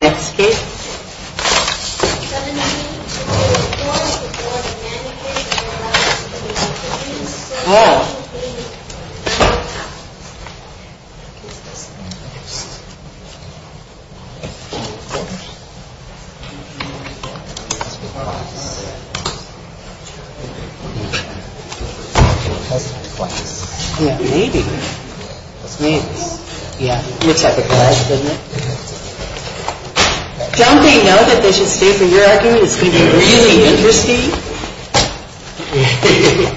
1744 The Board of Managers of Eleventh Street Loftominium Association Don't they know that they should stay for your argument? It's going to be really interesting. I don't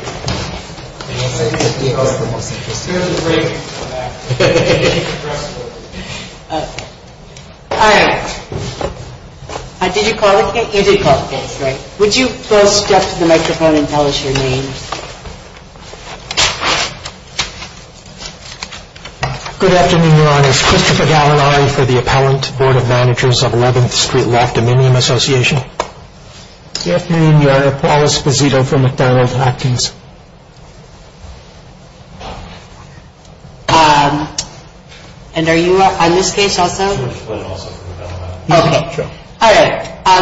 think that he has the most interesting argument. All right. Did you call the case? You did call the case, right? Would you both step to the microphone and tell us your names? Good afternoon, Your Honor. It's Christopher Gavanari for the Appellant Board of Managers of Eleventh Street Loftominium Association. Good afternoon, Your Honor. Paul Esposito for McDonald Hopkins. And are you on this case also? Okay. All right.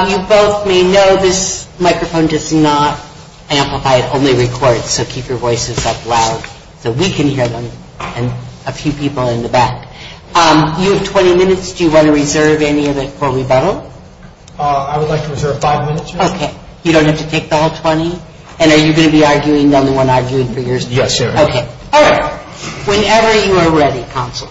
You both may know this microphone does not amplify. It only records, so keep your voices up loud so we can hear them and a few people in the back. You have 20 minutes. Do you want to reserve any of it for rebuttal? I would like to reserve five minutes, Your Honor. Okay. You don't have to take the whole 20? And are you going to be arguing, the only one arguing for yourself? Yes, Your Honor. Okay. All right. Whenever you are ready, counsel.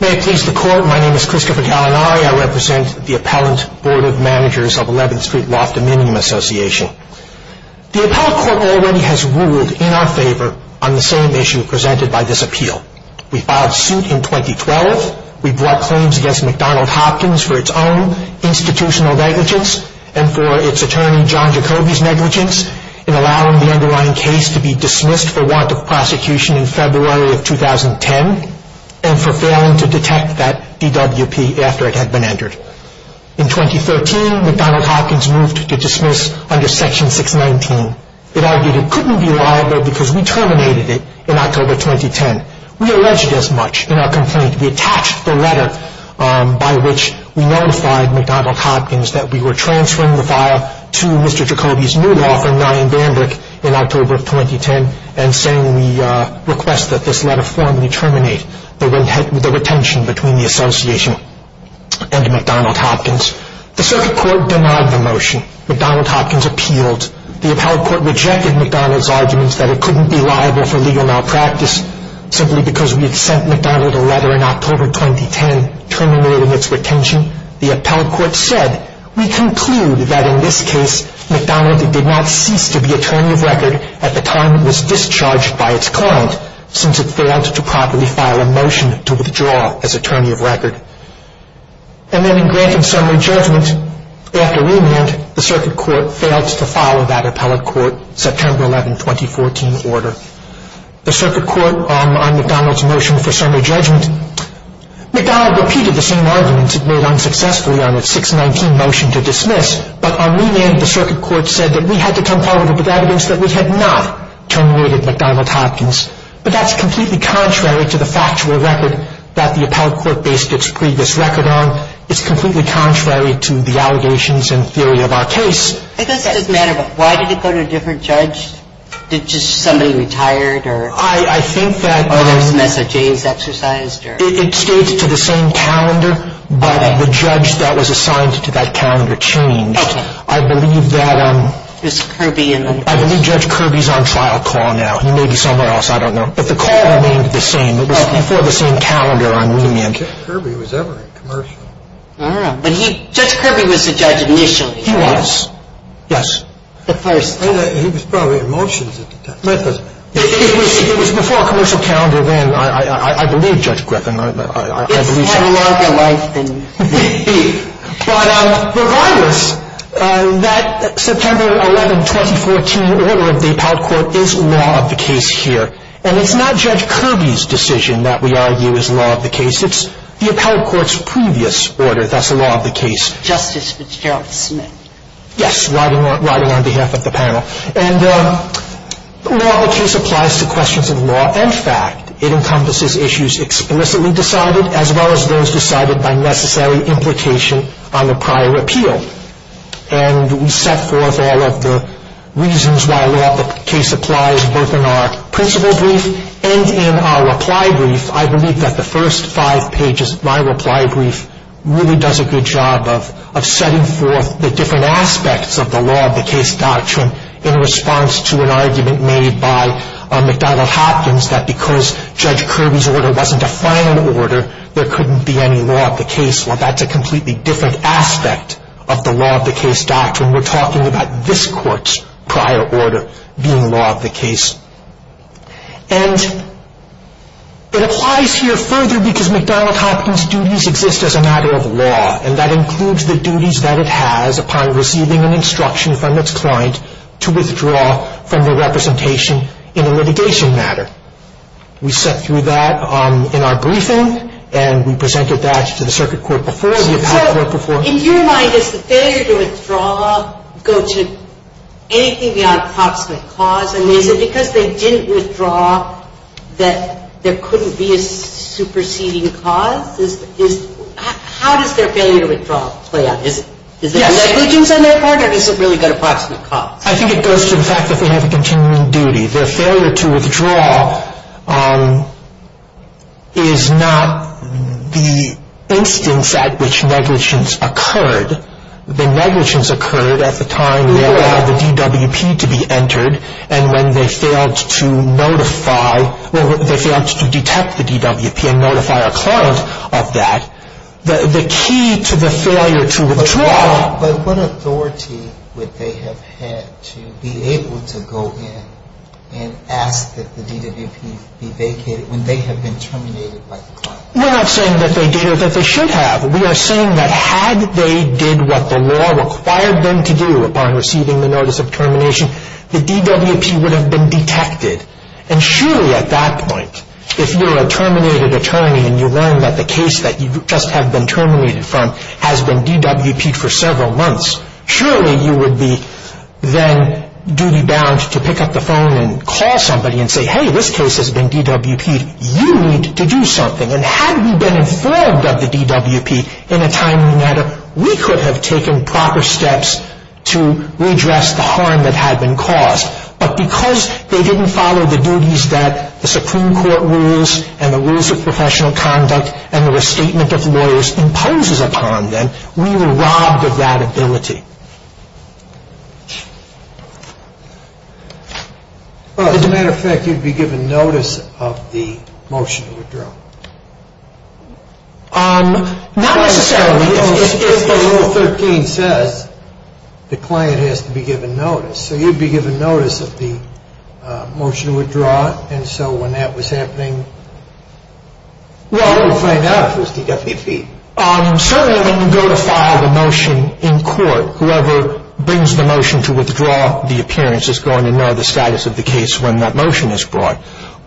May it please the Court, my name is Christopher Gavanari. I represent the Appellant Board of Managers of Eleventh Street Loftominium Association. The Appellant Court already has ruled in our favor on the same issue presented by this appeal. We filed suit in 2012. We brought claims against McDonald Hopkins for its own institutional negligence and for its attorney, John Jacoby's, negligence in allowing the underlying case to be dismissed for warrant of prosecution in February of 2010 and for failing to detect that DWP after it had been entered. In 2013, McDonald Hopkins moved to dismiss under Section 619. It argued it couldn't be liable because we terminated it in October 2010. We alleged as much in our complaint. We attached the letter by which we notified McDonald Hopkins that we were transferring the file to Mr. Jacoby's new law firm, Ryan Bambrick, in October of 2010 and saying we request that this letter formally terminate the retention between the Association and McDonald Hopkins. The circuit court denied the motion. In January, McDonald Hopkins appealed. The Appellant Court rejected McDonald's arguments that it couldn't be liable for legal malpractice simply because we had sent McDonald a letter in October 2010 terminating its retention. The Appellant Court said, we conclude that in this case, McDonald did not cease to be attorney of record at the time it was discharged by its client since it failed to properly file a motion to withdraw as attorney of record. And then in granted summary judgment, after remand, the circuit court failed to follow that Appellant Court September 11, 2014 order. The circuit court on McDonald's motion for summary judgment, McDonald repeated the same arguments it made unsuccessfully on its 619 motion to dismiss, but on remand, the circuit court said that we had to come forward with evidence that we had not terminated McDonald Hopkins. But that's completely contrary to the factual record that the Appellant Court based its previous record on. It's completely contrary to the allegations and theory of our case. I guess it doesn't matter, but why did it go to a different judge? Did just somebody retire it or? I think that. Or there was a mess of change exercised or? It stayed to the same calendar, but the judge that was assigned to that calendar changed. Okay. I believe that. It was Kirby in the. I believe Judge Kirby's on trial call now. He may be somewhere else. I don't know. But the call remained the same. It was before the same calendar on remand. Kirby was ever in commercial. All right. But he, Judge Kirby was the judge initially. He was. Yes. The first time. He was probably in motions at the time. It was before a commercial calendar then. I believe Judge Griffin. It's a lot longer life than. But regardless, that September 11, 2014 order of the appellate court is law of the case here. And it's not Judge Kirby's decision that we argue is law of the case. It's the appellate court's previous order that's the law of the case. Justice Fitzgerald Smith. Yes, riding on behalf of the panel. And law of the case applies to questions of law and fact. It encompasses issues explicitly decided as well as those decided by necessary implication on a prior appeal. And we set forth all of the reasons why law of the case applies both in our principle brief and in our reply brief. I believe that the first five pages of my reply brief really does a good job of setting forth the different aspects of the law of the case doctrine in response to an argument made by McDonald Hopkins that because Judge Kirby's order wasn't a final order, there couldn't be any law of the case. Well, that's a completely different aspect of the law of the case doctrine. We're talking about this court's prior order being law of the case. And it applies here further because McDonald Hopkins' duties exist as a matter of law. And that includes the duties that it has upon receiving an instruction from its client to withdraw from the representation in a litigation matter. We set through that in our briefing, and we presented that to the circuit court before, the appellate court before. So in your mind, does the failure to withdraw go to anything beyond an approximate cause? And is it because they didn't withdraw that there couldn't be a superseding cause? How does their failure to withdraw play out? Is there negligence on their part, or does it really go to approximate cause? I think it goes to the fact that they have a continuing duty. Their failure to withdraw is not the instance at which negligence occurred. The negligence occurred at the time they allowed the DWP to be entered, and when they failed to notify, well, they failed to detect the DWP and notify our client of that. The key to the failure to withdraw. But what authority would they have had to be able to go in and ask that the DWP be vacated when they have been terminated by the client? We're not saying that they did or that they should have. We are saying that had they did what the law required them to do upon receiving the notice of termination, the DWP would have been detected. And surely at that point, if you're a terminated attorney and you learn that the case that you just have been terminated from has been DWP'd for several months, surely you would be then duty-bound to pick up the phone and call somebody and say, hey, this case has been DWP'd, you need to do something. And had we been informed of the DWP in a timely manner, we could have taken proper steps to redress the harm that had been caused. But because they didn't follow the duties that the Supreme Court rules and the rules of professional conduct and the restatement of lawyers imposes upon them, we were robbed of that ability. As a matter of fact, you'd be given notice of the motion to withdraw. Not necessarily if the Rule 13 says the client has to be given notice. So you'd be given notice of the motion to withdraw. And so when that was happening, you wouldn't find out if it was DWP'd. Certainly when you go to file the motion in court, whoever brings the motion to withdraw the appearance is going to know the status of the case when that motion is brought.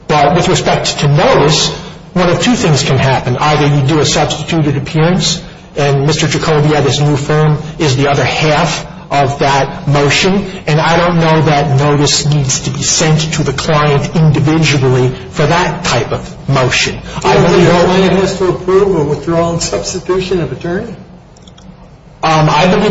But with respect to notice, one of two things can happen. Either you do a substituted appearance, and Mr. Jacoby at his new firm is the other half of that motion, and I don't know that notice needs to be sent to the client individually for that type of motion. I believe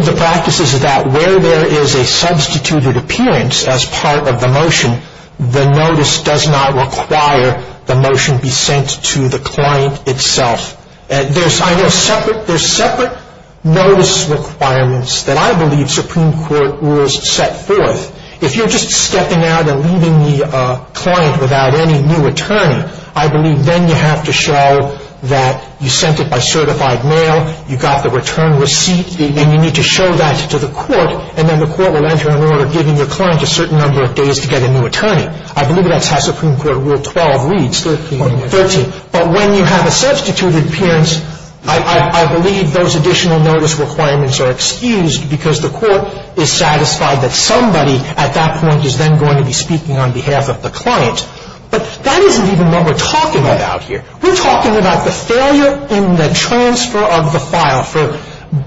the practice is that where there is a substituted appearance as part of the motion, the notice does not require the motion be sent to the client itself. There's separate notice requirements that I believe Supreme Court rules set forth. If you're just stepping out and leaving the client without any new attorney, I believe then you have to show that you sent it by certified mail, you got the return receipt, and you need to show that to the court, and then the court will enter an order giving your client a certain number of days to get a new attorney. I believe that's how Supreme Court Rule 12 reads. 13. 13. But when you have a substituted appearance, I believe those additional notice requirements are excused because the court is satisfied that somebody at that point is then going to be speaking on behalf of the client. But that isn't even what we're talking about here. We're talking about the failure in the transfer of the file for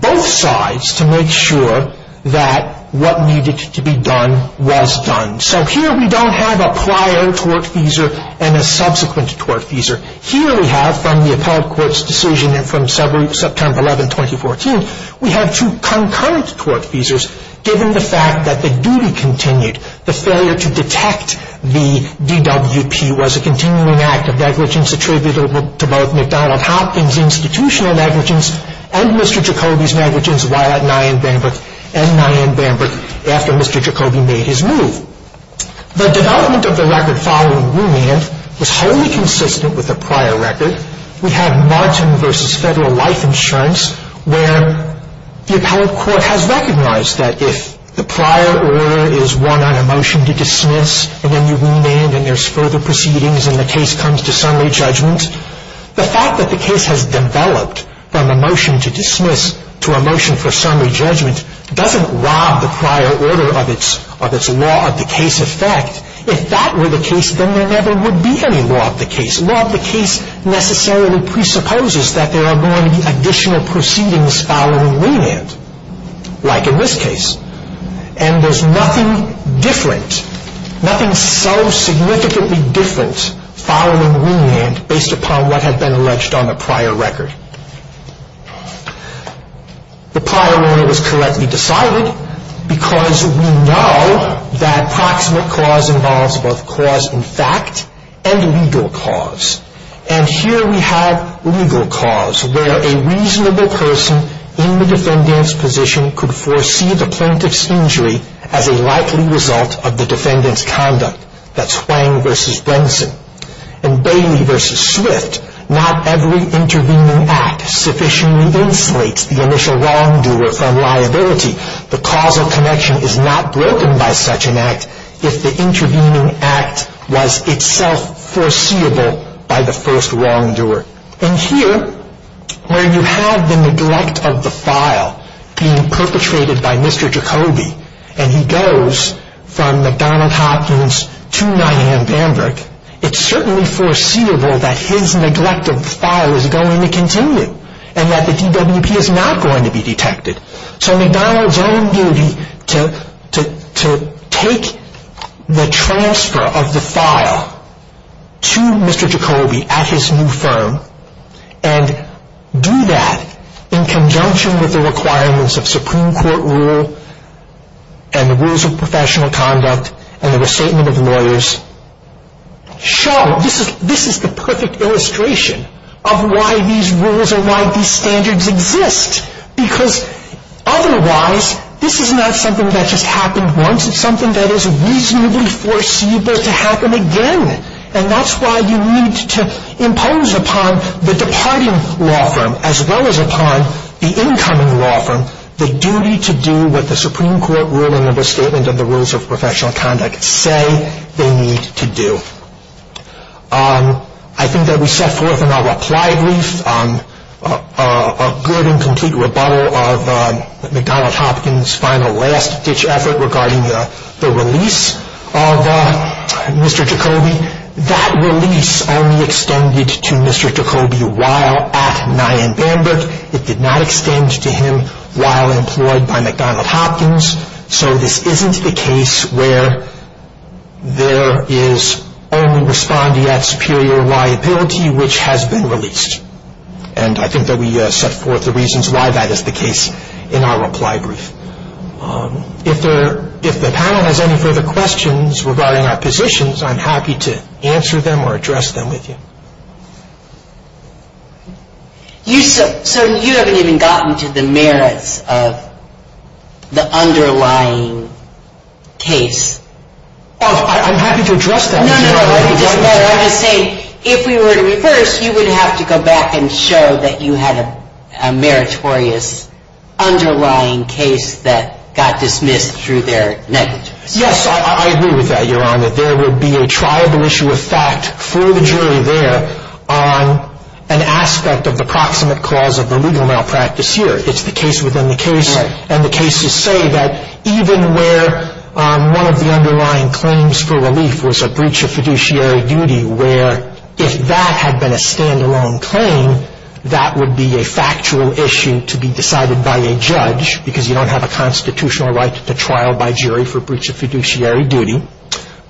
both sides to make sure that what needed to be done was done. So here we don't have a prior tort feasor and a subsequent tort feasor. Here we have, from the appellate court's decision and from September 11, 2014, we have two concurrent tort feasors given the fact that the duty continued. The failure to detect the DWP was a continuing act of negligence attributable to both McDonald-Hopkins institutional negligence and Mr. Jacobi's negligence while at Nyan-Bambrook and Nyan-Bambrook after Mr. Jacobi made his move. The development of the record following Rumand was wholly consistent with the prior record. We have Martin v. Federal Life Insurance where the appellate court has recognized that if the prior order is one on a motion to dismiss and then you Rumand and there's further proceedings and the case comes to summary judgment, the fact that the case has developed from a motion to dismiss to a motion for summary judgment doesn't rob the prior order of its law of the case effect. If that were the case, then there never would be any law of the case. Law of the case necessarily presupposes that there are going to be additional proceedings following Rumand like in this case and there's nothing different, nothing so significantly different following Rumand based upon what had been alleged on the prior record. The prior order was correctly decided because we know that proximate cause involves both cause in fact and legal cause. And here we have legal cause where a reasonable person in the defendant's position could foresee the plaintiff's injury as a likely result of the defendant's conduct. That's Hwang v. Brinson. In Bailey v. Swift, not every intervening act sufficiently insulates the initial wrongdoer from liability. The causal connection is not broken by such an act if the intervening act was itself foreseeable by the first wrongdoer. And here where you have the neglect of the file being perpetrated by Mr. Jacoby and he goes from McDonald Hopkins to 9 a.m. Bamberg, it's certainly foreseeable that his neglect of the file is going to continue and that the DWP is not going to be detected. So McDonald's own duty to take the transfer of the file to Mr. Jacoby at his new firm and do that in conjunction with the requirements of Supreme Court rule and the rules of professional conduct and the restatement of lawyers show this is the perfect illustration of why these rules and why these standards exist because otherwise this is not something that just happened once. It's something that is reasonably foreseeable to happen again. And that's why you need to impose upon the departing law firm as well as upon the incoming law firm the duty to do what the Supreme Court rule and the restatement of the rules of professional conduct say they need to do. I think that we set forth in our reply brief a good and complete rebuttal of McDonald Hopkins' final last-ditch effort regarding the release of Mr. Jacoby. That release only extended to Mr. Jacoby while at 9 a.m. Bamberg. It did not extend to him while employed by McDonald Hopkins. So this isn't the case where there is only respondee at superior liability which has been released. And I think that we set forth the reasons why that is the case in our reply brief. If the panel has any further questions regarding our positions, I'm happy to answer them or address them with you. So you haven't even gotten to the merits of the underlying case? I'm happy to address that. No, no, no. I'm just saying if we were to reverse, you would have to go back and show that you had a meritorious underlying case that got dismissed through their negligence. Yes, I agree with that, Your Honor. There would be a trialable issue of fact for the jury there on an aspect of the proximate cause of the legal malpractice here. It's the case within the case. And the cases say that even where one of the underlying claims for relief was a breach of fiduciary duty where if that had been a stand-alone claim, that would be a factual issue to be decided by a judge because you don't have a constitutional right to trial by jury for breach of fiduciary duty.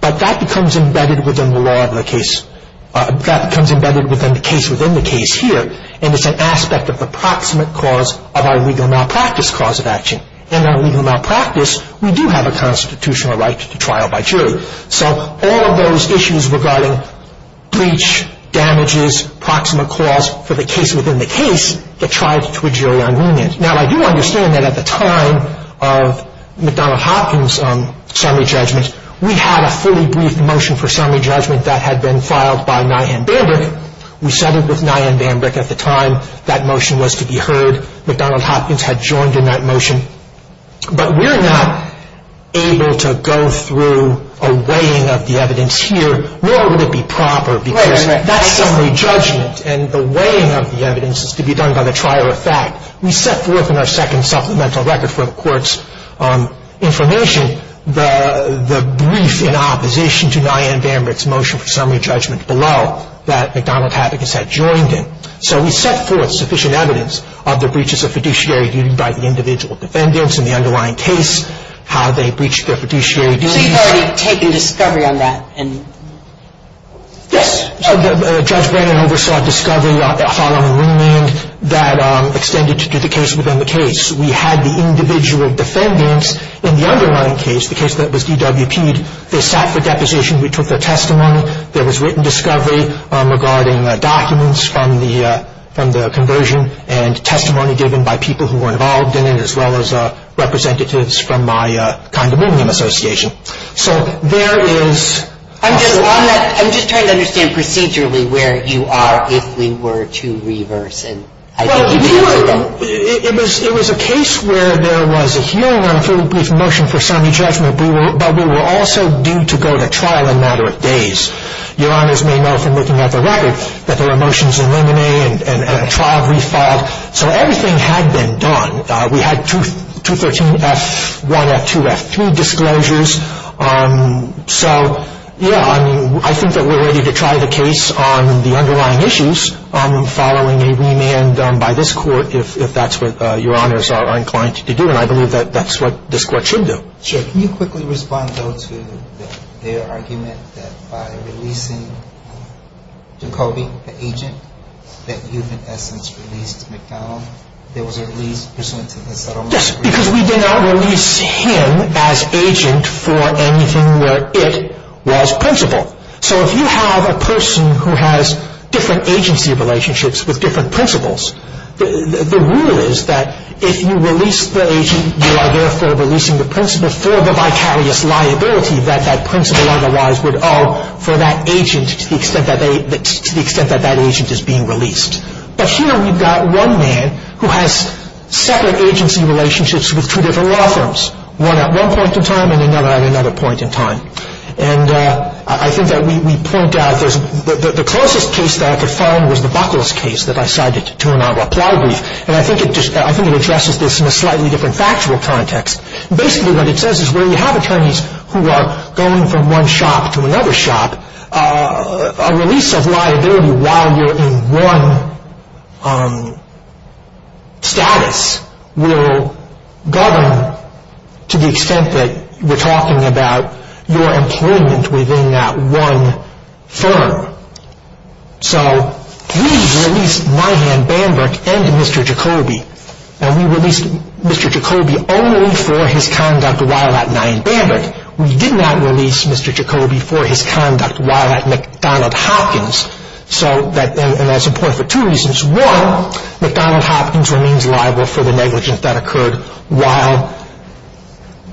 But that becomes embedded within the law of the case. That becomes embedded within the case within the case here. And it's an aspect of the proximate cause of our legal malpractice cause of action. In our legal malpractice, we do have a constitutional right to trial by jury. So all of those issues regarding breach, damages, proximate cause for the case within the case, the trial is to a jury on remand. Now, I do understand that at the time of McDonnell Hopkins' summary judgment, we had a fully briefed motion for summary judgment that had been filed by Nye and Bambrick. We settled with Nye and Bambrick at the time that motion was to be heard. McDonnell Hopkins had joined in that motion. But we're not able to go through a weighing of the evidence here, nor would it be proper because that's summary judgment. And the weighing of the evidence is to be done by the trial of fact. We set forth in our second supplemental record for the court's information the brief in opposition to Nye and Bambrick's motion for summary judgment below that McDonnell Hopkins had joined in. So we set forth sufficient evidence of the breaches of fiduciary duty by the individual defendants in the underlying case, how they breached their fiduciary duties. So you've already taken discovery on that? Yes. Judge Brennan oversaw discovery following remand that extended to the case within the case. We had the individual defendants in the underlying case, the case that was DWP'd. They sat for deposition. We took their testimony. There was written discovery regarding documents from the conversion and testimony given by people who were involved in it as well as representatives from my condominium association. I'm just trying to understand procedurally where you are if we were to reverse. It was a case where there was a hearing on a fairly brief motion for summary judgment, but we were also due to go to trial in a matter of days. Your honors may know from looking at the record that there were motions in limine and a trial refiled. So everything had been done. We had 213 F1, F2, F3 disclosures. So, yeah, I mean, I think that we're ready to try the case on the underlying issues following a remand by this court if that's what your honors are inclined to do, and I believe that that's what this court should do. Sure. Can you quickly respond, though, to their argument that by releasing Jacoby, the agent, that you've in essence released McDonald? There was a release pursuant to the settlement agreement. Yes, because we did not release him as agent for anything where it was principal. So if you have a person who has different agency relationships with different principals, the rule is that if you release the agent, you are therefore releasing the principal for the vicarious liability that that principal otherwise would owe for that agent to the extent that that agent is being released. But here we've got one man who has separate agency relationships with two different law firms, one at one point in time and another at another point in time. And I think that we point out the closest case that I could find was the Buckles case that I cited to an out-of-apply brief, and I think it addresses this in a slightly different factual context. Basically what it says is when you have attorneys who are going from one shop to another shop, a release of liability while you're in one status will govern to the extent that we're talking about your employment within that one firm. So we've released Nyhan Bamberg and Mr. Jacoby, and we released Mr. Jacoby only for his conduct while at Nyhan Bamberg. We did not release Mr. Jacoby for his conduct while at McDonald Hopkins, and that's important for two reasons. One, McDonald Hopkins remains liable for the negligence that occurred while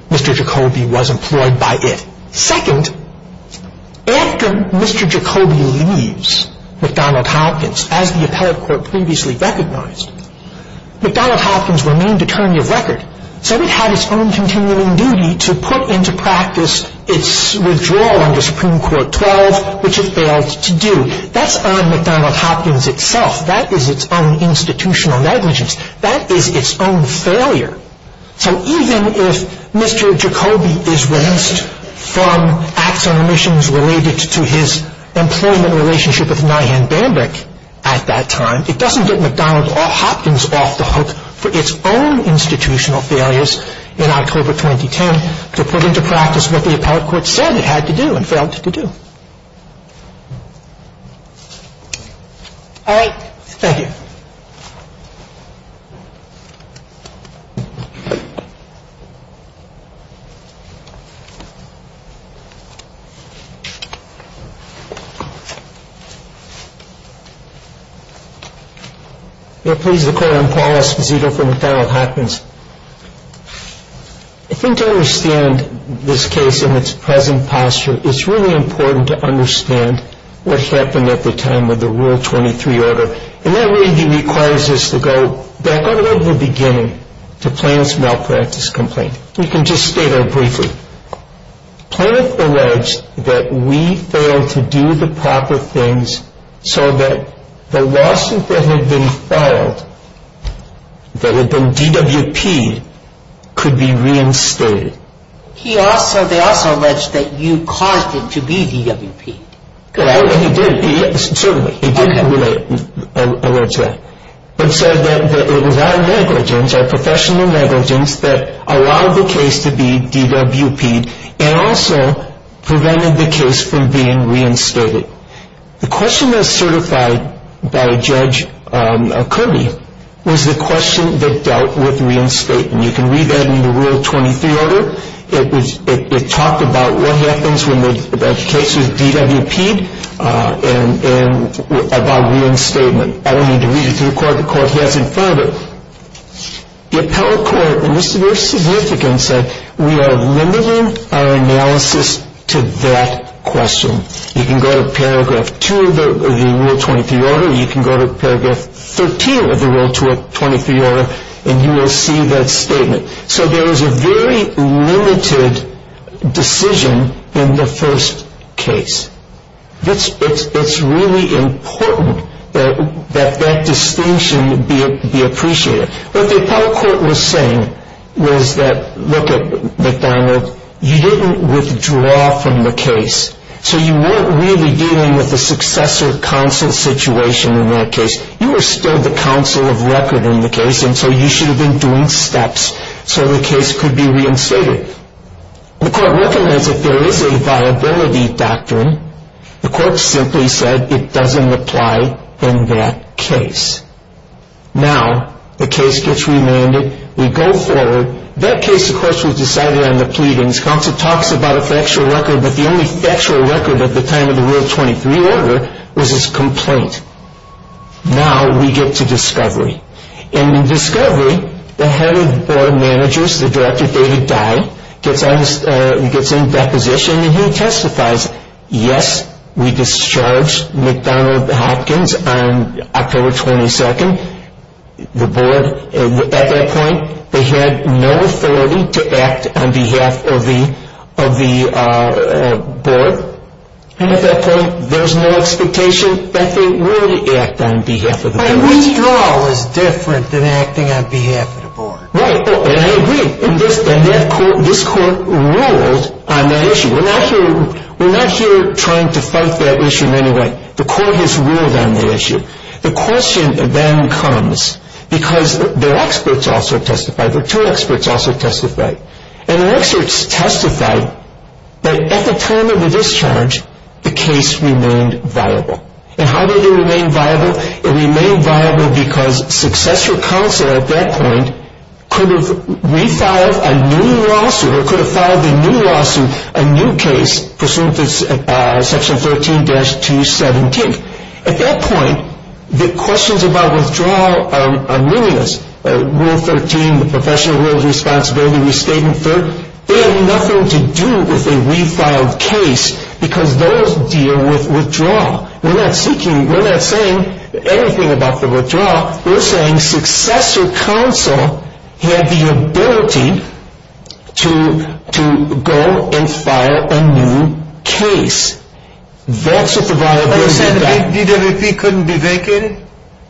Mr. Jacoby was employed by it. Second, after Mr. Jacoby leaves McDonald Hopkins, as the appellate court previously recognized, McDonald Hopkins remained attorney of record, so it had its own continuing duty to put into practice its withdrawal under Supreme Court 12, which it failed to do. That's on McDonald Hopkins itself. That is its own institutional negligence. That is its own failure. So even if Mr. Jacoby is released from acts on remissions related to his employment relationship with Nyhan Bamberg at that time, it doesn't get McDonald Hopkins off the hook for its own institutional failures in October 2010 to put into practice what the appellate court said it had to do and failed to do. Thank you. I'm Paul Esposito from McDonald Hopkins. I think to understand this case in its present posture, it's really important to understand what happened at the time of the Rule 23 order, and that really requires us to go back all the way to the beginning to Plaintiff's malpractice complaint. We can just state that briefly. Plaintiff alleged that we failed to do the proper things so that the lawsuit that had been filed, that had been DWP'd, could be reinstated. They also alleged that you caused it to be DWP'd, correct? He did. Certainly. He did allege that. But said that it was our negligence, our professional negligence, that allowed the case to be DWP'd and also prevented the case from being reinstated. The question that was certified by Judge Kirby was the question that dealt with reinstating. You can read that in the Rule 23 order. It talked about what happens when the case is DWP'd and about reinstatement. I don't need to read it to the court. The court has it in front of it. The appellate court, and this is very significant, said we are limiting our analysis to that question. You can go to Paragraph 2 of the Rule 23 order. You can go to Paragraph 13 of the Rule 23 order, and you will see that statement. So there is a very limited decision in the first case. It's really important that that distinction be appreciated. What the appellate court was saying was that, look at McDonald, you didn't withdraw from the case. So you weren't really dealing with a successor counsel situation in that case. You were still the counsel of record in the case, and so you should have been doing steps so the case could be reinstated. The court recommends that there is a viability doctrine. The court simply said it doesn't apply in that case. Now the case gets remanded. We go forward. That case, of course, was decided on the pleadings. Counsel talks about a factual record, but the only factual record at the time of the Rule 23 order was his complaint. Now we get to discovery. In discovery, the head of the board of managers, the director, David Dye, gets in that position, and he testifies, yes, we discharged McDonald Hopkins on October 22nd. The board, at that point, they had no authority to act on behalf of the board, and at that point there was no expectation that they would act on behalf of the board. My withdrawal is different than acting on behalf of the board. Right, and I agree, and this court ruled on that issue. We're not here trying to fight that issue in any way. The court has ruled on the issue. The question then comes, because their experts also testified, their two experts also testified, and their experts testified that at the time of the discharge, the case remained viable. And how did it remain viable? It remained viable because successor counsel at that point could have refiled a new lawsuit or could have filed a new lawsuit, a new case pursuant to Section 13-217. At that point, the questions about withdrawal are meaningless. Rule 13, the professional rule of responsibility, we state in third, they have nothing to do with a refiled case because those deal with withdrawal. We're not seeking, we're not saying anything about the withdrawal. We're saying successor counsel had the ability to go and file a new case. That's what the viability doctrine. But you said the DWP couldn't be vacated?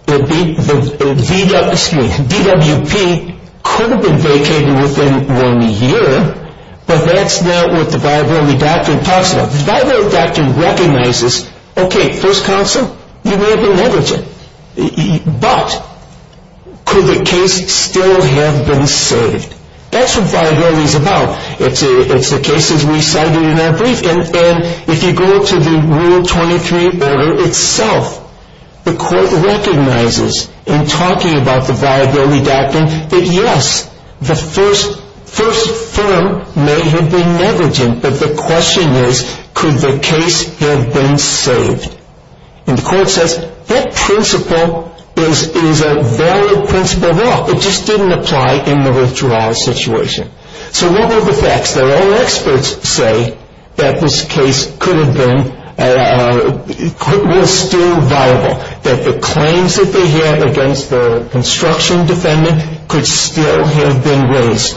The DWP could have been vacated within one year, but that's not what the viability doctrine talks about. The viability doctrine recognizes, okay, first counsel, you may have been negligent, but could the case still have been saved? That's what viability is about. It's the cases we cited in our brief, and if you go to the Rule 23 order itself, the court recognizes in talking about the viability doctrine that, yes, the first firm may have been negligent, but the question is, could the case have been saved? And the court says that principle is a valid principle of law. It just didn't apply in the withdrawal situation. So what are the facts? That all experts say that this case could have been, was still viable, that the claims that they had against the construction defendant could still have been raised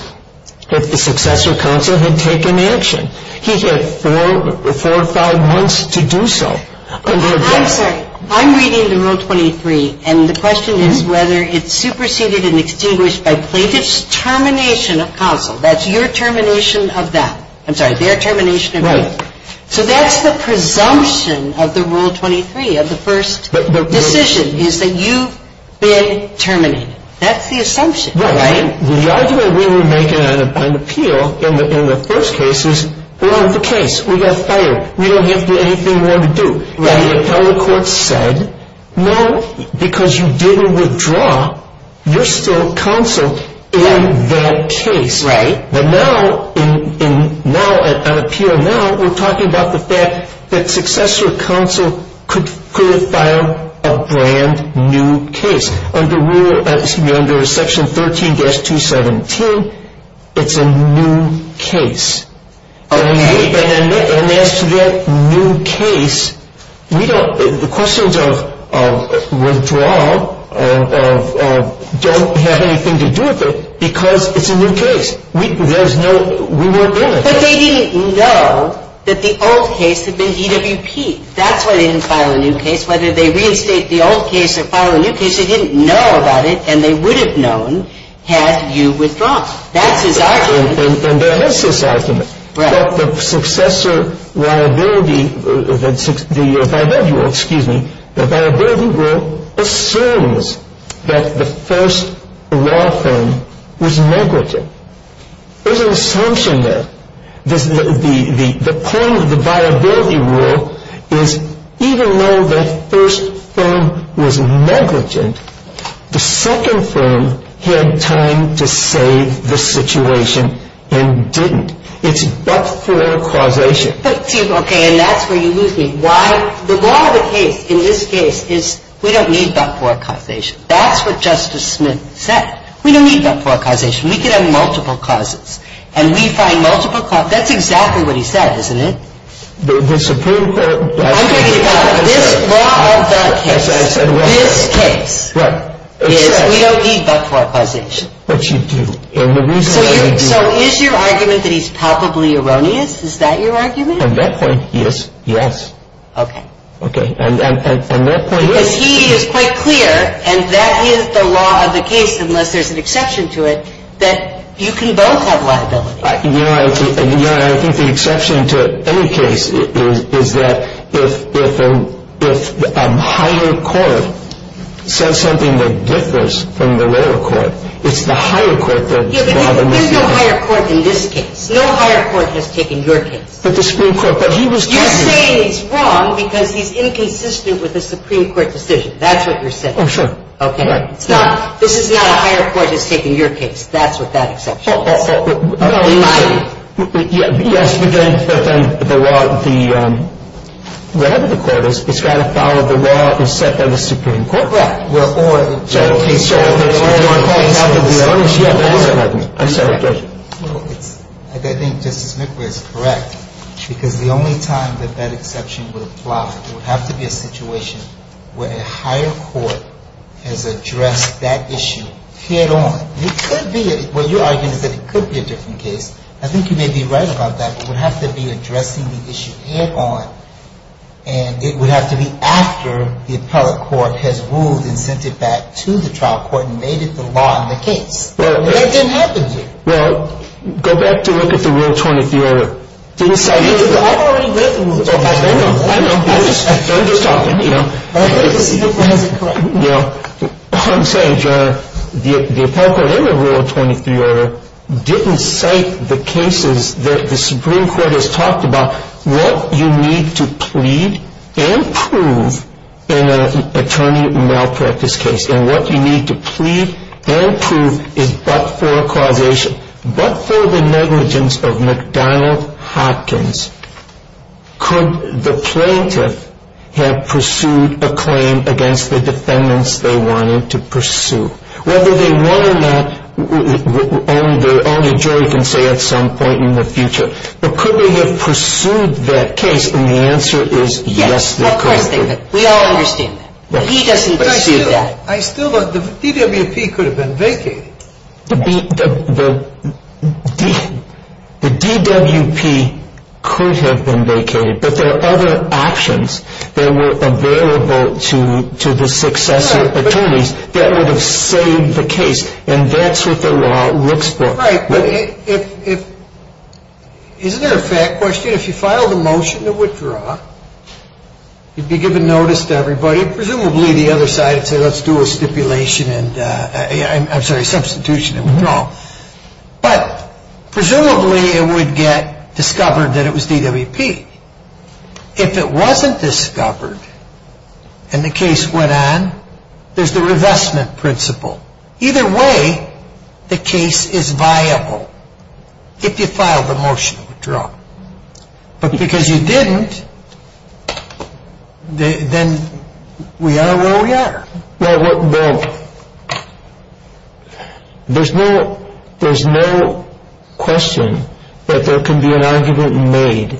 if the successor counsel had taken action. He had four or five months to do so. I'm sorry. I'm reading the Rule 23, and the question is whether it's superseded and extinguished by plaintiff's termination of counsel. That's your termination of them. I'm sorry, their termination of me. Right. So that's the presumption of the Rule 23, of the first. Decision is that you've been terminated. That's the assumption, right? Right. The argument we were making on appeal in the first case is, we're out of the case. We got fired. We don't have anything more to do. Right. The appellate court said, no, because you didn't withdraw, you're still counsel in that case. Right. But now, on appeal now, we're talking about the fact that successor counsel could have filed a brand new case. Under Section 13-217, it's a new case. Okay. And as to that new case, the questions of withdrawal don't have anything to do with it because it's a new case. There's no, we weren't in it. But they didn't know that the old case had been DWP. That's why they didn't file a new case. Whether they reinstate the old case or file a new case, they didn't know about it, and they would have known had you withdrawn. That's his argument. And there is this argument. Right. But the successor liability, the viability rule, excuse me, the viability rule assumes that the first law firm was negligent. There's an assumption there. The point of the viability rule is even though the first firm was negligent, the second firm had time to save the situation and didn't. It's but-for-causation. Okay. And that's where you lose me. Why? The law of the case in this case is we don't need but-for-causation. That's what Justice Smith said. We don't need but-for-causation. We could have multiple causes. And we find multiple causes. That's exactly what he said, isn't it? The Supreme Court of the United States. I'm trying to get back. This law of the case, this case is we don't need but-for-causation. But you do. So is your argument that he's palpably erroneous? Is that your argument? On that point, yes. Yes. Okay. Okay. And that point is. Because he is quite clear, and that is the law of the case unless there's an exception to it, that you can both have liability. Your Honor, I think the exception to any case is that if a higher court says something that differs from the lower court, it's the higher court that. Yeah, but there's no higher court in this case. No higher court has taken your case. But the Supreme Court. But he was. You're saying he's wrong because he's inconsistent with the Supreme Court decision. That's what you're saying. Oh, sure. Okay. This is not a higher court has taken your case. That's with that exception. Yes, but then the whatever the court is, it's got to follow the law set by the Supreme Court. Right. Well, or. I'm sorry, Judge. I think Justice McBrayer is correct. Because the only time that that exception would apply would have to be a situation where a higher court has addressed that issue head on. It could be. What you're arguing is that it could be a different case. I think you may be right about that. It would have to be addressing the issue head on. And it would have to be after the appellate court has ruled and sent it back to the trial court and made it the law in the case. That didn't happen here. Well, go back to look at the Rule 20 of the order. I've already read the Rule 20. I know. I'm just talking, you know. But I think the Supreme Court has it correct. I'm sorry, Judge. The appellate court in the Rule 23 order didn't cite the cases that the Supreme Court has talked about. What you need to plead and prove in an attorney malpractice case. And what you need to plead and prove is but for a causation, but for the negligence of McDonald Hopkins. Could the plaintiff have pursued a claim against the defendants they wanted to pursue? Whether they won or not, only a jury can say at some point in the future. But could they have pursued that case? And the answer is yes, they could. Yes, of course they could. We all understand that. But he doesn't pursue that. I still don't. The DWP could have been vacated. The DWP could have been vacated. But there are other options that were available to the successor attorneys that would have saved the case. And that's what the law looks for. Right. Isn't there a fact question? If you filed a motion to withdraw, you'd be given notice to everybody. Presumably the other side would say let's do a stipulation. I'm sorry, substitution and withdrawal. But presumably it would get discovered that it was DWP. If it wasn't discovered and the case went on, there's the revestment principle. Either way, the case is viable if you filed the motion to withdraw. But because you didn't, then we are where we are. Well, there's no question that there can be an argument made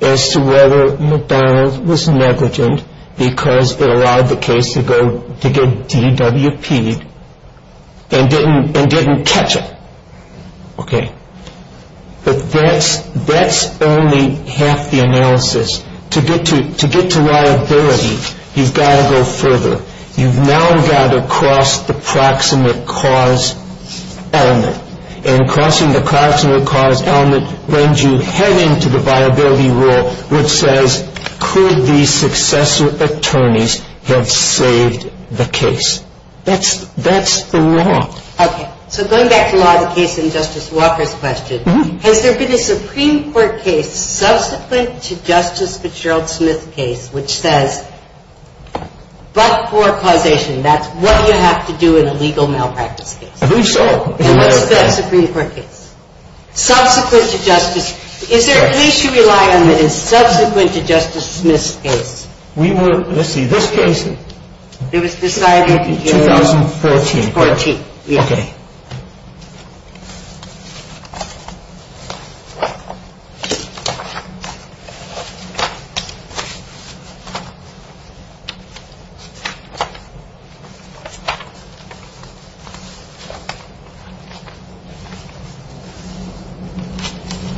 as to whether McDonald's was negligent because it allowed the case to get DWPed and didn't catch it. Okay. To get to liability, you've got to go further. You've now got to cross the proximate cause element. And crossing the proximate cause element brings you head into the viability rule, which says could these successor attorneys have saved the case. That's the law. Okay. So going back to law, the case in Justice Walker's question, has there been a Supreme Court case subsequent to Justice Fitzgerald Smith's case which says but for causation, that's what you have to do in a legal malpractice case? I believe so. And what's the Supreme Court case? Subsequent to Justice — is there at least you rely on the subsequent to Justice Smith's case? We were — let's see, this case — It was decided in 2014. 2014. Okay.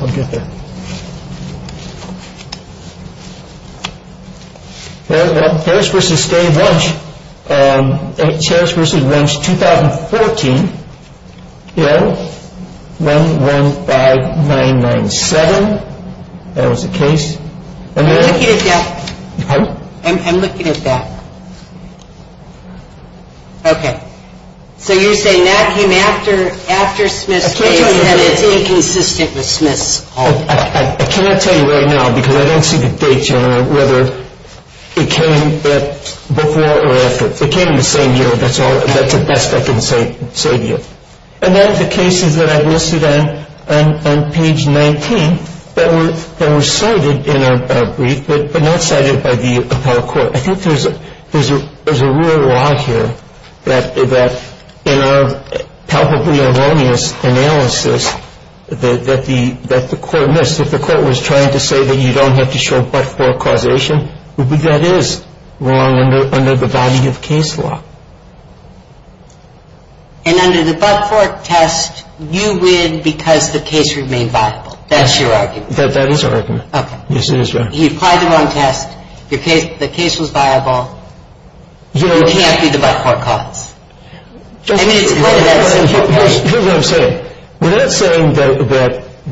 I'll get there. Well, Ferris v. Stay Lunch, 2014, 115997. That was the case. I'm looking at that. I'm looking at that. Okay. So you're saying that came after Smith's case and it's inconsistent with Smith's? I can't tell you right now because I don't see the date, General, whether it came before or after. It came the same year. That's the best I can say to you. And then the cases that I've listed on page 19 that were cited in our brief but not cited by the appellate court. I think there's a real lie here that in our palpably erroneous analysis that the court missed, that the court was trying to say that you don't have to show but-for causation. That is wrong under the body of case law. And under the but-for test, you win because the case remained viable. That's your argument? That is our argument. Okay. Yes, it is right. He applied the wrong test. The case was viable. It can't be the but-for cause. I mean, it's part of that simple case. Here's what I'm saying. We're not saying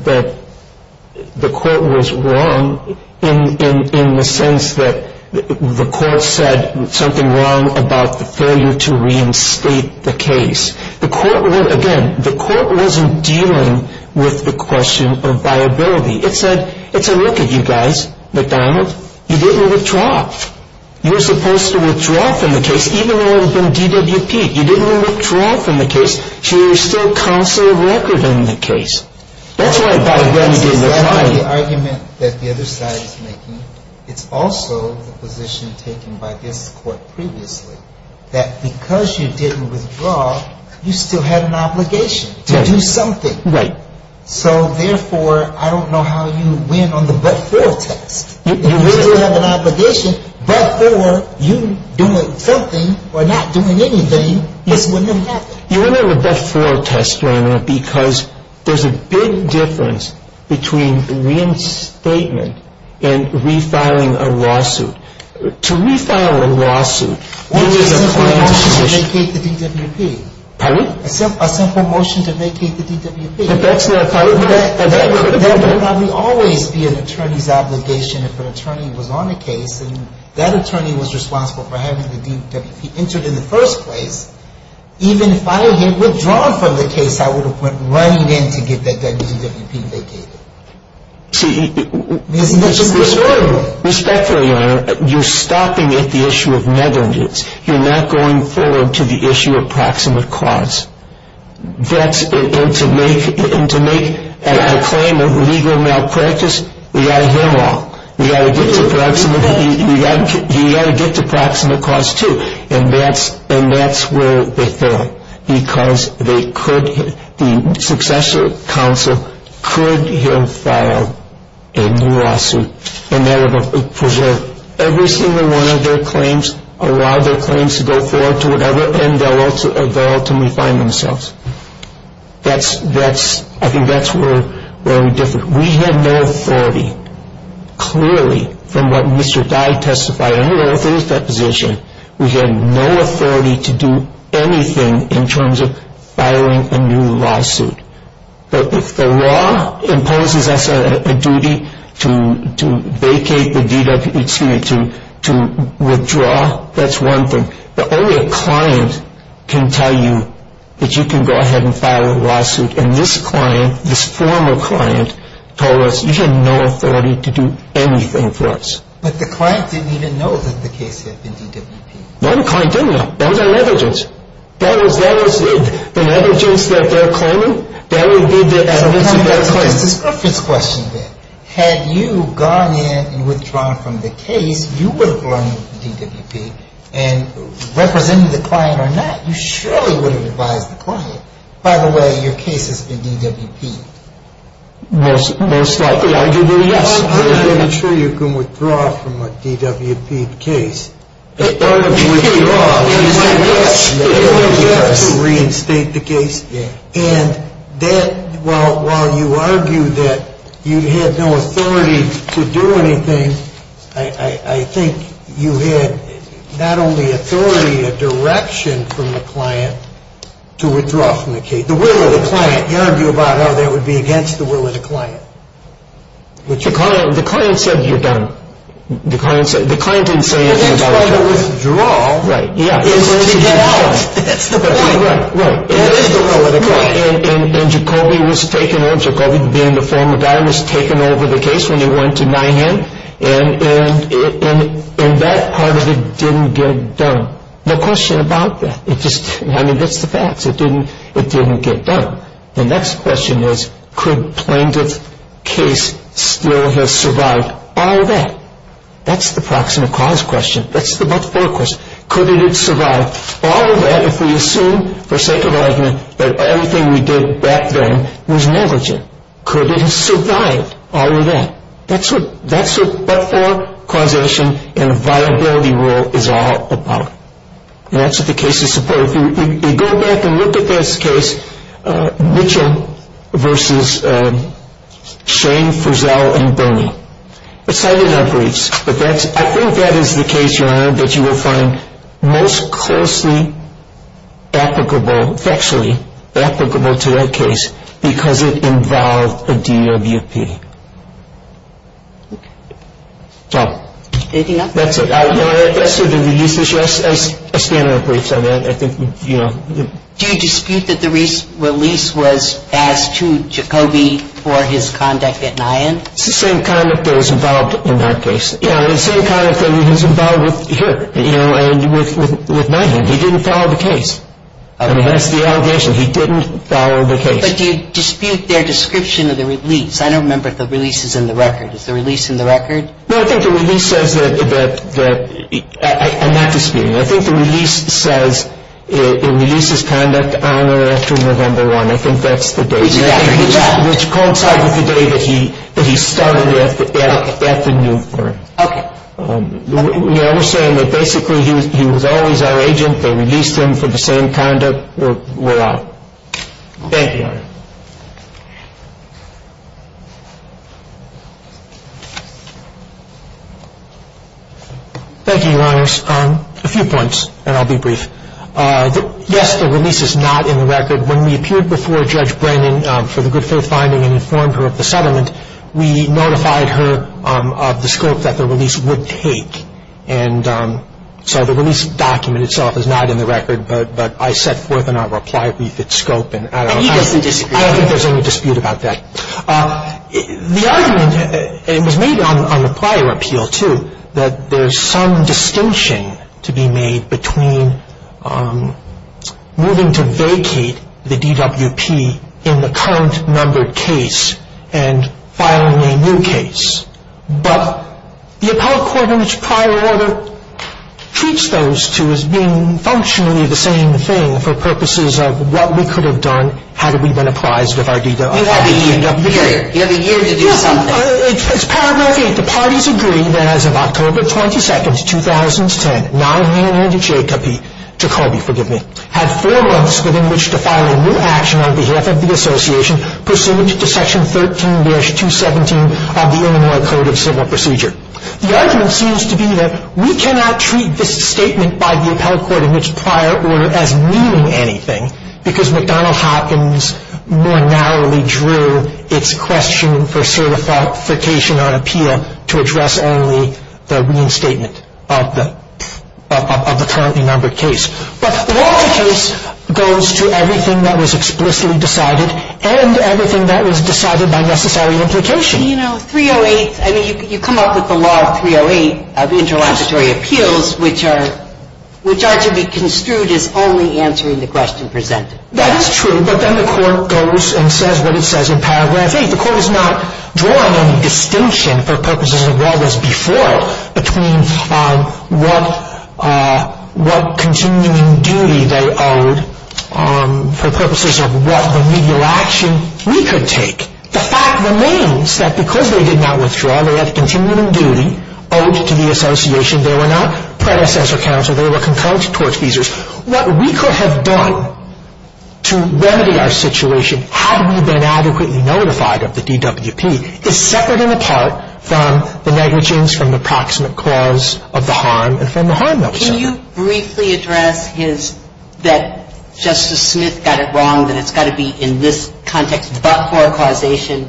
that the court was wrong in the sense that the court said something wrong about the failure to reinstate the case. Again, the court wasn't dealing with the question of viability. It's a look at you guys, McDonald. You didn't withdraw. You were supposed to withdraw from the case even though it had been DWP'd. You didn't withdraw from the case. So you're still constantly a record in the case. That's why by then you didn't withdraw. That's exactly the argument that the other side is making. It's also the position taken by this court previously that because you didn't withdraw, you still had an obligation to do something. Right. So, therefore, I don't know how you win on the but-for test. You win because you have an obligation. But-for, you doing something or not doing anything, this wouldn't have happened. You win on the but-for test, Rainer, because there's a big difference between reinstatement and refiling a lawsuit. To refile a lawsuit, you need a clear decision. A simple motion to vacate the DWP. Pardon me? A simple motion to vacate the DWP. That would probably always be an attorney's obligation if an attorney was on a case, and that attorney was responsible for having the DWP entered in the first place. Even if I had withdrawn from the case, I would have went right in to get that DWP vacated. See- Isn't that just- Respectfully, Your Honor, you're stopping at the issue of negligence. You're not going forward to the issue of proximate cause. That's-and to make a claim of legal malpractice, we've got to hear them all. We've got to get to proximate. We've got to get to proximate cause, too. And that's where they fail because they could-the successor counsel could have filed a new lawsuit, and that would have preserved every single one of their claims, allowed their claims to go forward to whatever end they'll ultimately find themselves. That's-I think that's where we're different. We had no authority, clearly, from what Mr. Dye testified. I don't know if it is that position. We had no authority to do anything in terms of filing a new lawsuit. But if the law imposes us a duty to vacate the DWP-excuse me-to withdraw, that's one thing. But only a client can tell you that you can go ahead and file a lawsuit. And this client, this former client, told us you had no authority to do anything for us. But the client didn't even know that the case had been DWP'd. No, the client didn't know. That was our negligence. That was it. The negligence that they're claiming, that would be the evidence of their claim. So the client has a misdiscrepancy question then. Had you gone in and withdrawn from the case, you would have gone in with the DWP. And representing the client or not, you surely would have advised the client, by the way, your case has been DWP'd. Most likely, arguably, yes. I'm pretty sure you can withdraw from a DWP'd case. It would be wrong to reinstate the case. And that, while you argue that you had no authority to do anything, I think you had not only authority, a direction from the client to withdraw from the case. The will of the client. You argue about how that would be against the will of the client. The client said you're done. The client didn't say anything about it. The next part of withdrawal is to get out. That's the point. Right, right. That is the will of the client. And Jacoby was taken over. Jacoby being the former guy was taken over the case when he went to Nyhan. And that part of it didn't get done. No question about that. I mean, that's the facts. It didn't get done. The next question is, could plaintiff's case still have survived all of that? That's the proximate cause question. That's the but-for question. Could it have survived all of that if we assume, for sake of argument, that everything we did back then was negligent? Could it have survived all of that? That's what but-for, causation, and viability rule is all about. And that's what the case is supposed to be. If you go back and look at this case, Mitchell versus Shane, Frizzell, and Burney, it's not in our briefs, but I think that is the case, Your Honor, that you will find most closely applicable, factually applicable to that case, because it involved a DWP. Anything else? That's it. Your Honor, as to the release issue, I stand on the briefs on that. I think, you know. Do you dispute that the release was asked to Jacoby for his conduct at Nyhan? It's the same conduct that was involved in our case. Yeah, the same conduct that was involved with here, you know, and with Nyhan. He didn't follow the case. I mean, that's the allegation. He didn't follow the case. But do you dispute their description of the release? I don't remember if the release is in the record. Is the release in the record? No, I think the release says that, and not disputing it, I think the release says it releases conduct on or after November 1. I think that's the date. Which coincides with the day that he started at the new firm. Okay. We understand that basically he was always our agent. They released him for the same conduct. We're out. Thank you, Your Honor. Thank you, Your Honors. A few points, and I'll be brief. Yes, the release is not in the record. When we appeared before Judge Brennan for the good faith finding and informed her of the settlement, we notified her of the scope that the release would take. And so the release document itself is not in the record, but I set forth in our reply brief its scope. And he doesn't dispute that. I don't think there's any dispute about that. The argument was made on the prior appeal, too, that there's some distinction to be made between moving to vacate the DWP in the current numbered case and filing a new case. But the appellate court in its prior order treats those two as being functionally the same thing for purposes of what we could have done had we been apprised of our DWP. You have a year to do something. It's paragraph 8. The parties agree that as of October 22, 2010, Nyhan and Jacoby had four months within which to file a new action on behalf of the association pursuant to Section 13-217 of the Illinois Code of Civil Procedure. The argument seems to be that we cannot treat this statement by the appellate court in its prior order as meaning anything because McDonnell-Hopkins more narrowly drew its question for certification on appeal to address only the reinstatement of the currently numbered case. But the larger case goes to everything that was explicitly decided and everything that was decided by necessary implication. You know, 308, I mean, you come up with the law of 308 of interlocutory appeals, which are to be construed as only answering the question presented. That is true, but then the court goes and says what it says in paragraph 8. The court is not drawing any distinction for purposes of what was before it between what continuing duty they owed for purposes of what remedial action we could take. The fact remains that because they did not withdraw, they had continuing duty owed to the association. They were not predecessor counsel. They were concocted tortfeasors. What we could have done to remedy our situation had we been adequately notified of the DWP is separate and apart from the negligence from the proximate cause of the harm and from the harm not to suffer. Can you briefly address his, that Justice Smith got it wrong, that it's got to be in this context but for a causation,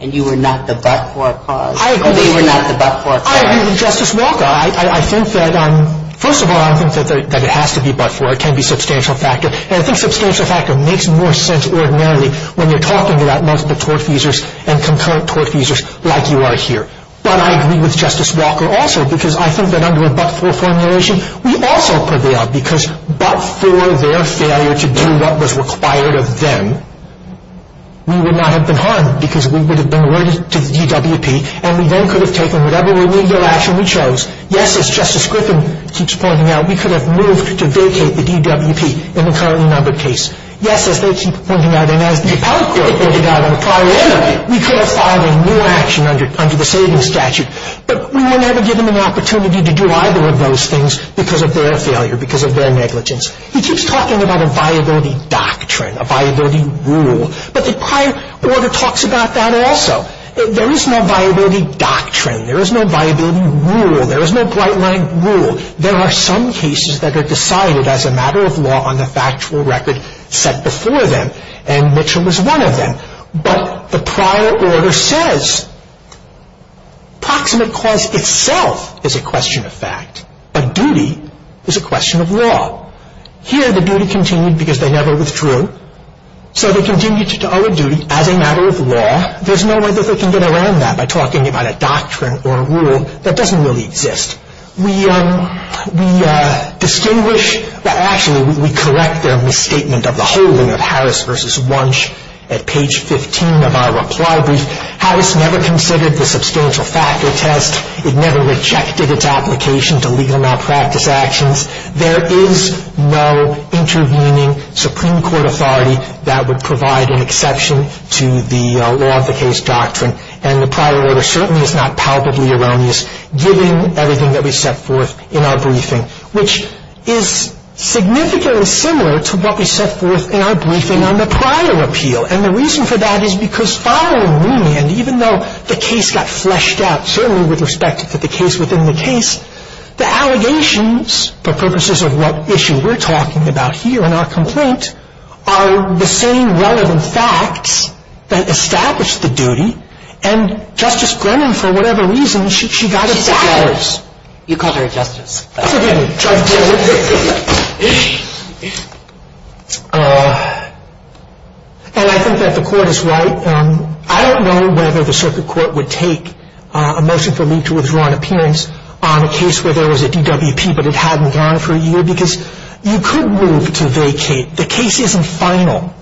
and you were not the but-for cause, or they were not the but-for cause? I agree with Justice Walker. I think that, first of all, I don't think that it has to be but-for. It can be substantial factor, and I think substantial factor makes more sense ordinarily when you're talking about multiple tortfeasors and concurrent tortfeasors like you are here. But I agree with Justice Walker also because I think that under a but-for formulation, we also prevail because but-for their failure to do what was required of them, we would not have been harmed because we would have been alerted to the DWP, and we then could have taken whatever remedial action we chose. Yes, as Justice Griffin keeps pointing out, we could have moved to vacate the DWP in the currently numbered case. Yes, as they keep pointing out, and as the appellate court pointed out on a prior error, we could have filed a new action under the savings statute, but we would never give them an opportunity to do either of those things because of their failure, because of their negligence. He keeps talking about a viability doctrine, a viability rule, but the prior order talks about that also. There is no viability doctrine. There is no viability rule. There is no bright-line rule. There are some cases that are decided as a matter of law on the factual record set before them, and Mitchell was one of them, but the prior order says proximate cause itself is a question of fact, but duty is a question of law. Here, the duty continued because they never withdrew, so they continue to owe a duty as a matter of law. There's no way that they can get around that by talking about a doctrine or a rule that doesn't really exist. We distinguish, well, actually, we correct their misstatement of the holding of Harris v. Wunsch at page 15 of our reply brief. Harris never considered the substantial factor test. It never rejected its application to legal malpractice actions. There is no intervening Supreme Court authority that would provide an exception to the law of the case doctrine, and the prior order certainly is not palpably erroneous, given everything that we set forth in our briefing, which is significantly similar to what we set forth in our briefing on the prior appeal, and the reason for that is because following Wunsch, and even though the case got fleshed out, certainly with respect to the case within the case, the allegations, for purposes of what issue we're talking about here in our complaint, are the same relevant facts that established the duty, and Justice Brennan, for whatever reason, she got it backwards. She's a judge. You called her a justice. And I think that the court is right. I don't know whether the circuit court would take a motion for me to withdraw an appearance on a case where there was a DWP, but it hadn't gone for a year, because you could move to vacate. The case isn't final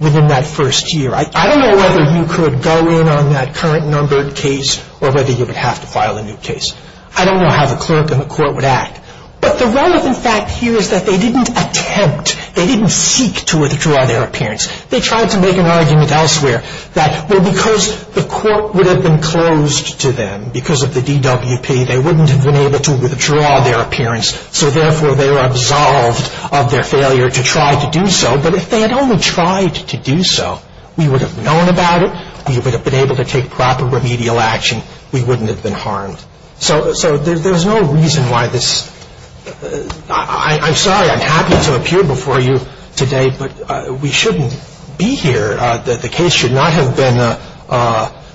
within that first year. I don't know whether you could go in on that current numbered case, or whether you would have to file a new case. I don't know how the clerk in the court would act. But the relevant fact here is that they didn't attempt, they didn't seek to withdraw their appearance. They tried to make an argument elsewhere that, well, because the court would have been closed to them, because of the DWP, they wouldn't have been able to withdraw their appearance, so therefore they were absolved of their failure to try to do so. But if they had only tried to do so, we would have known about it, we would have been able to take proper remedial action, we wouldn't have been harmed. So there's no reason why this – I'm sorry, I'm happy to appear before you today, but we shouldn't be here. The case should not have been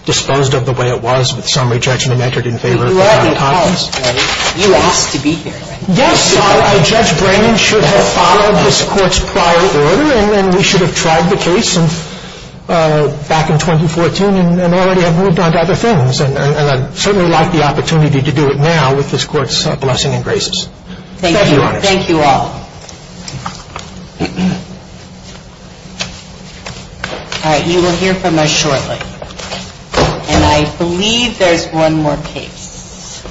disposed of the way it was with summary judgment entered in favor of Donald Hopkins. You asked to be here. Yes, Judge Brennan should have followed this Court's prior order, and we should have tried the case back in 2014 and already have moved on to other things. And I'd certainly like the opportunity to do it now with this Court's blessing and graces. Thank you. Thank you all. All right, you will hear from us shortly. And I believe there's one more case.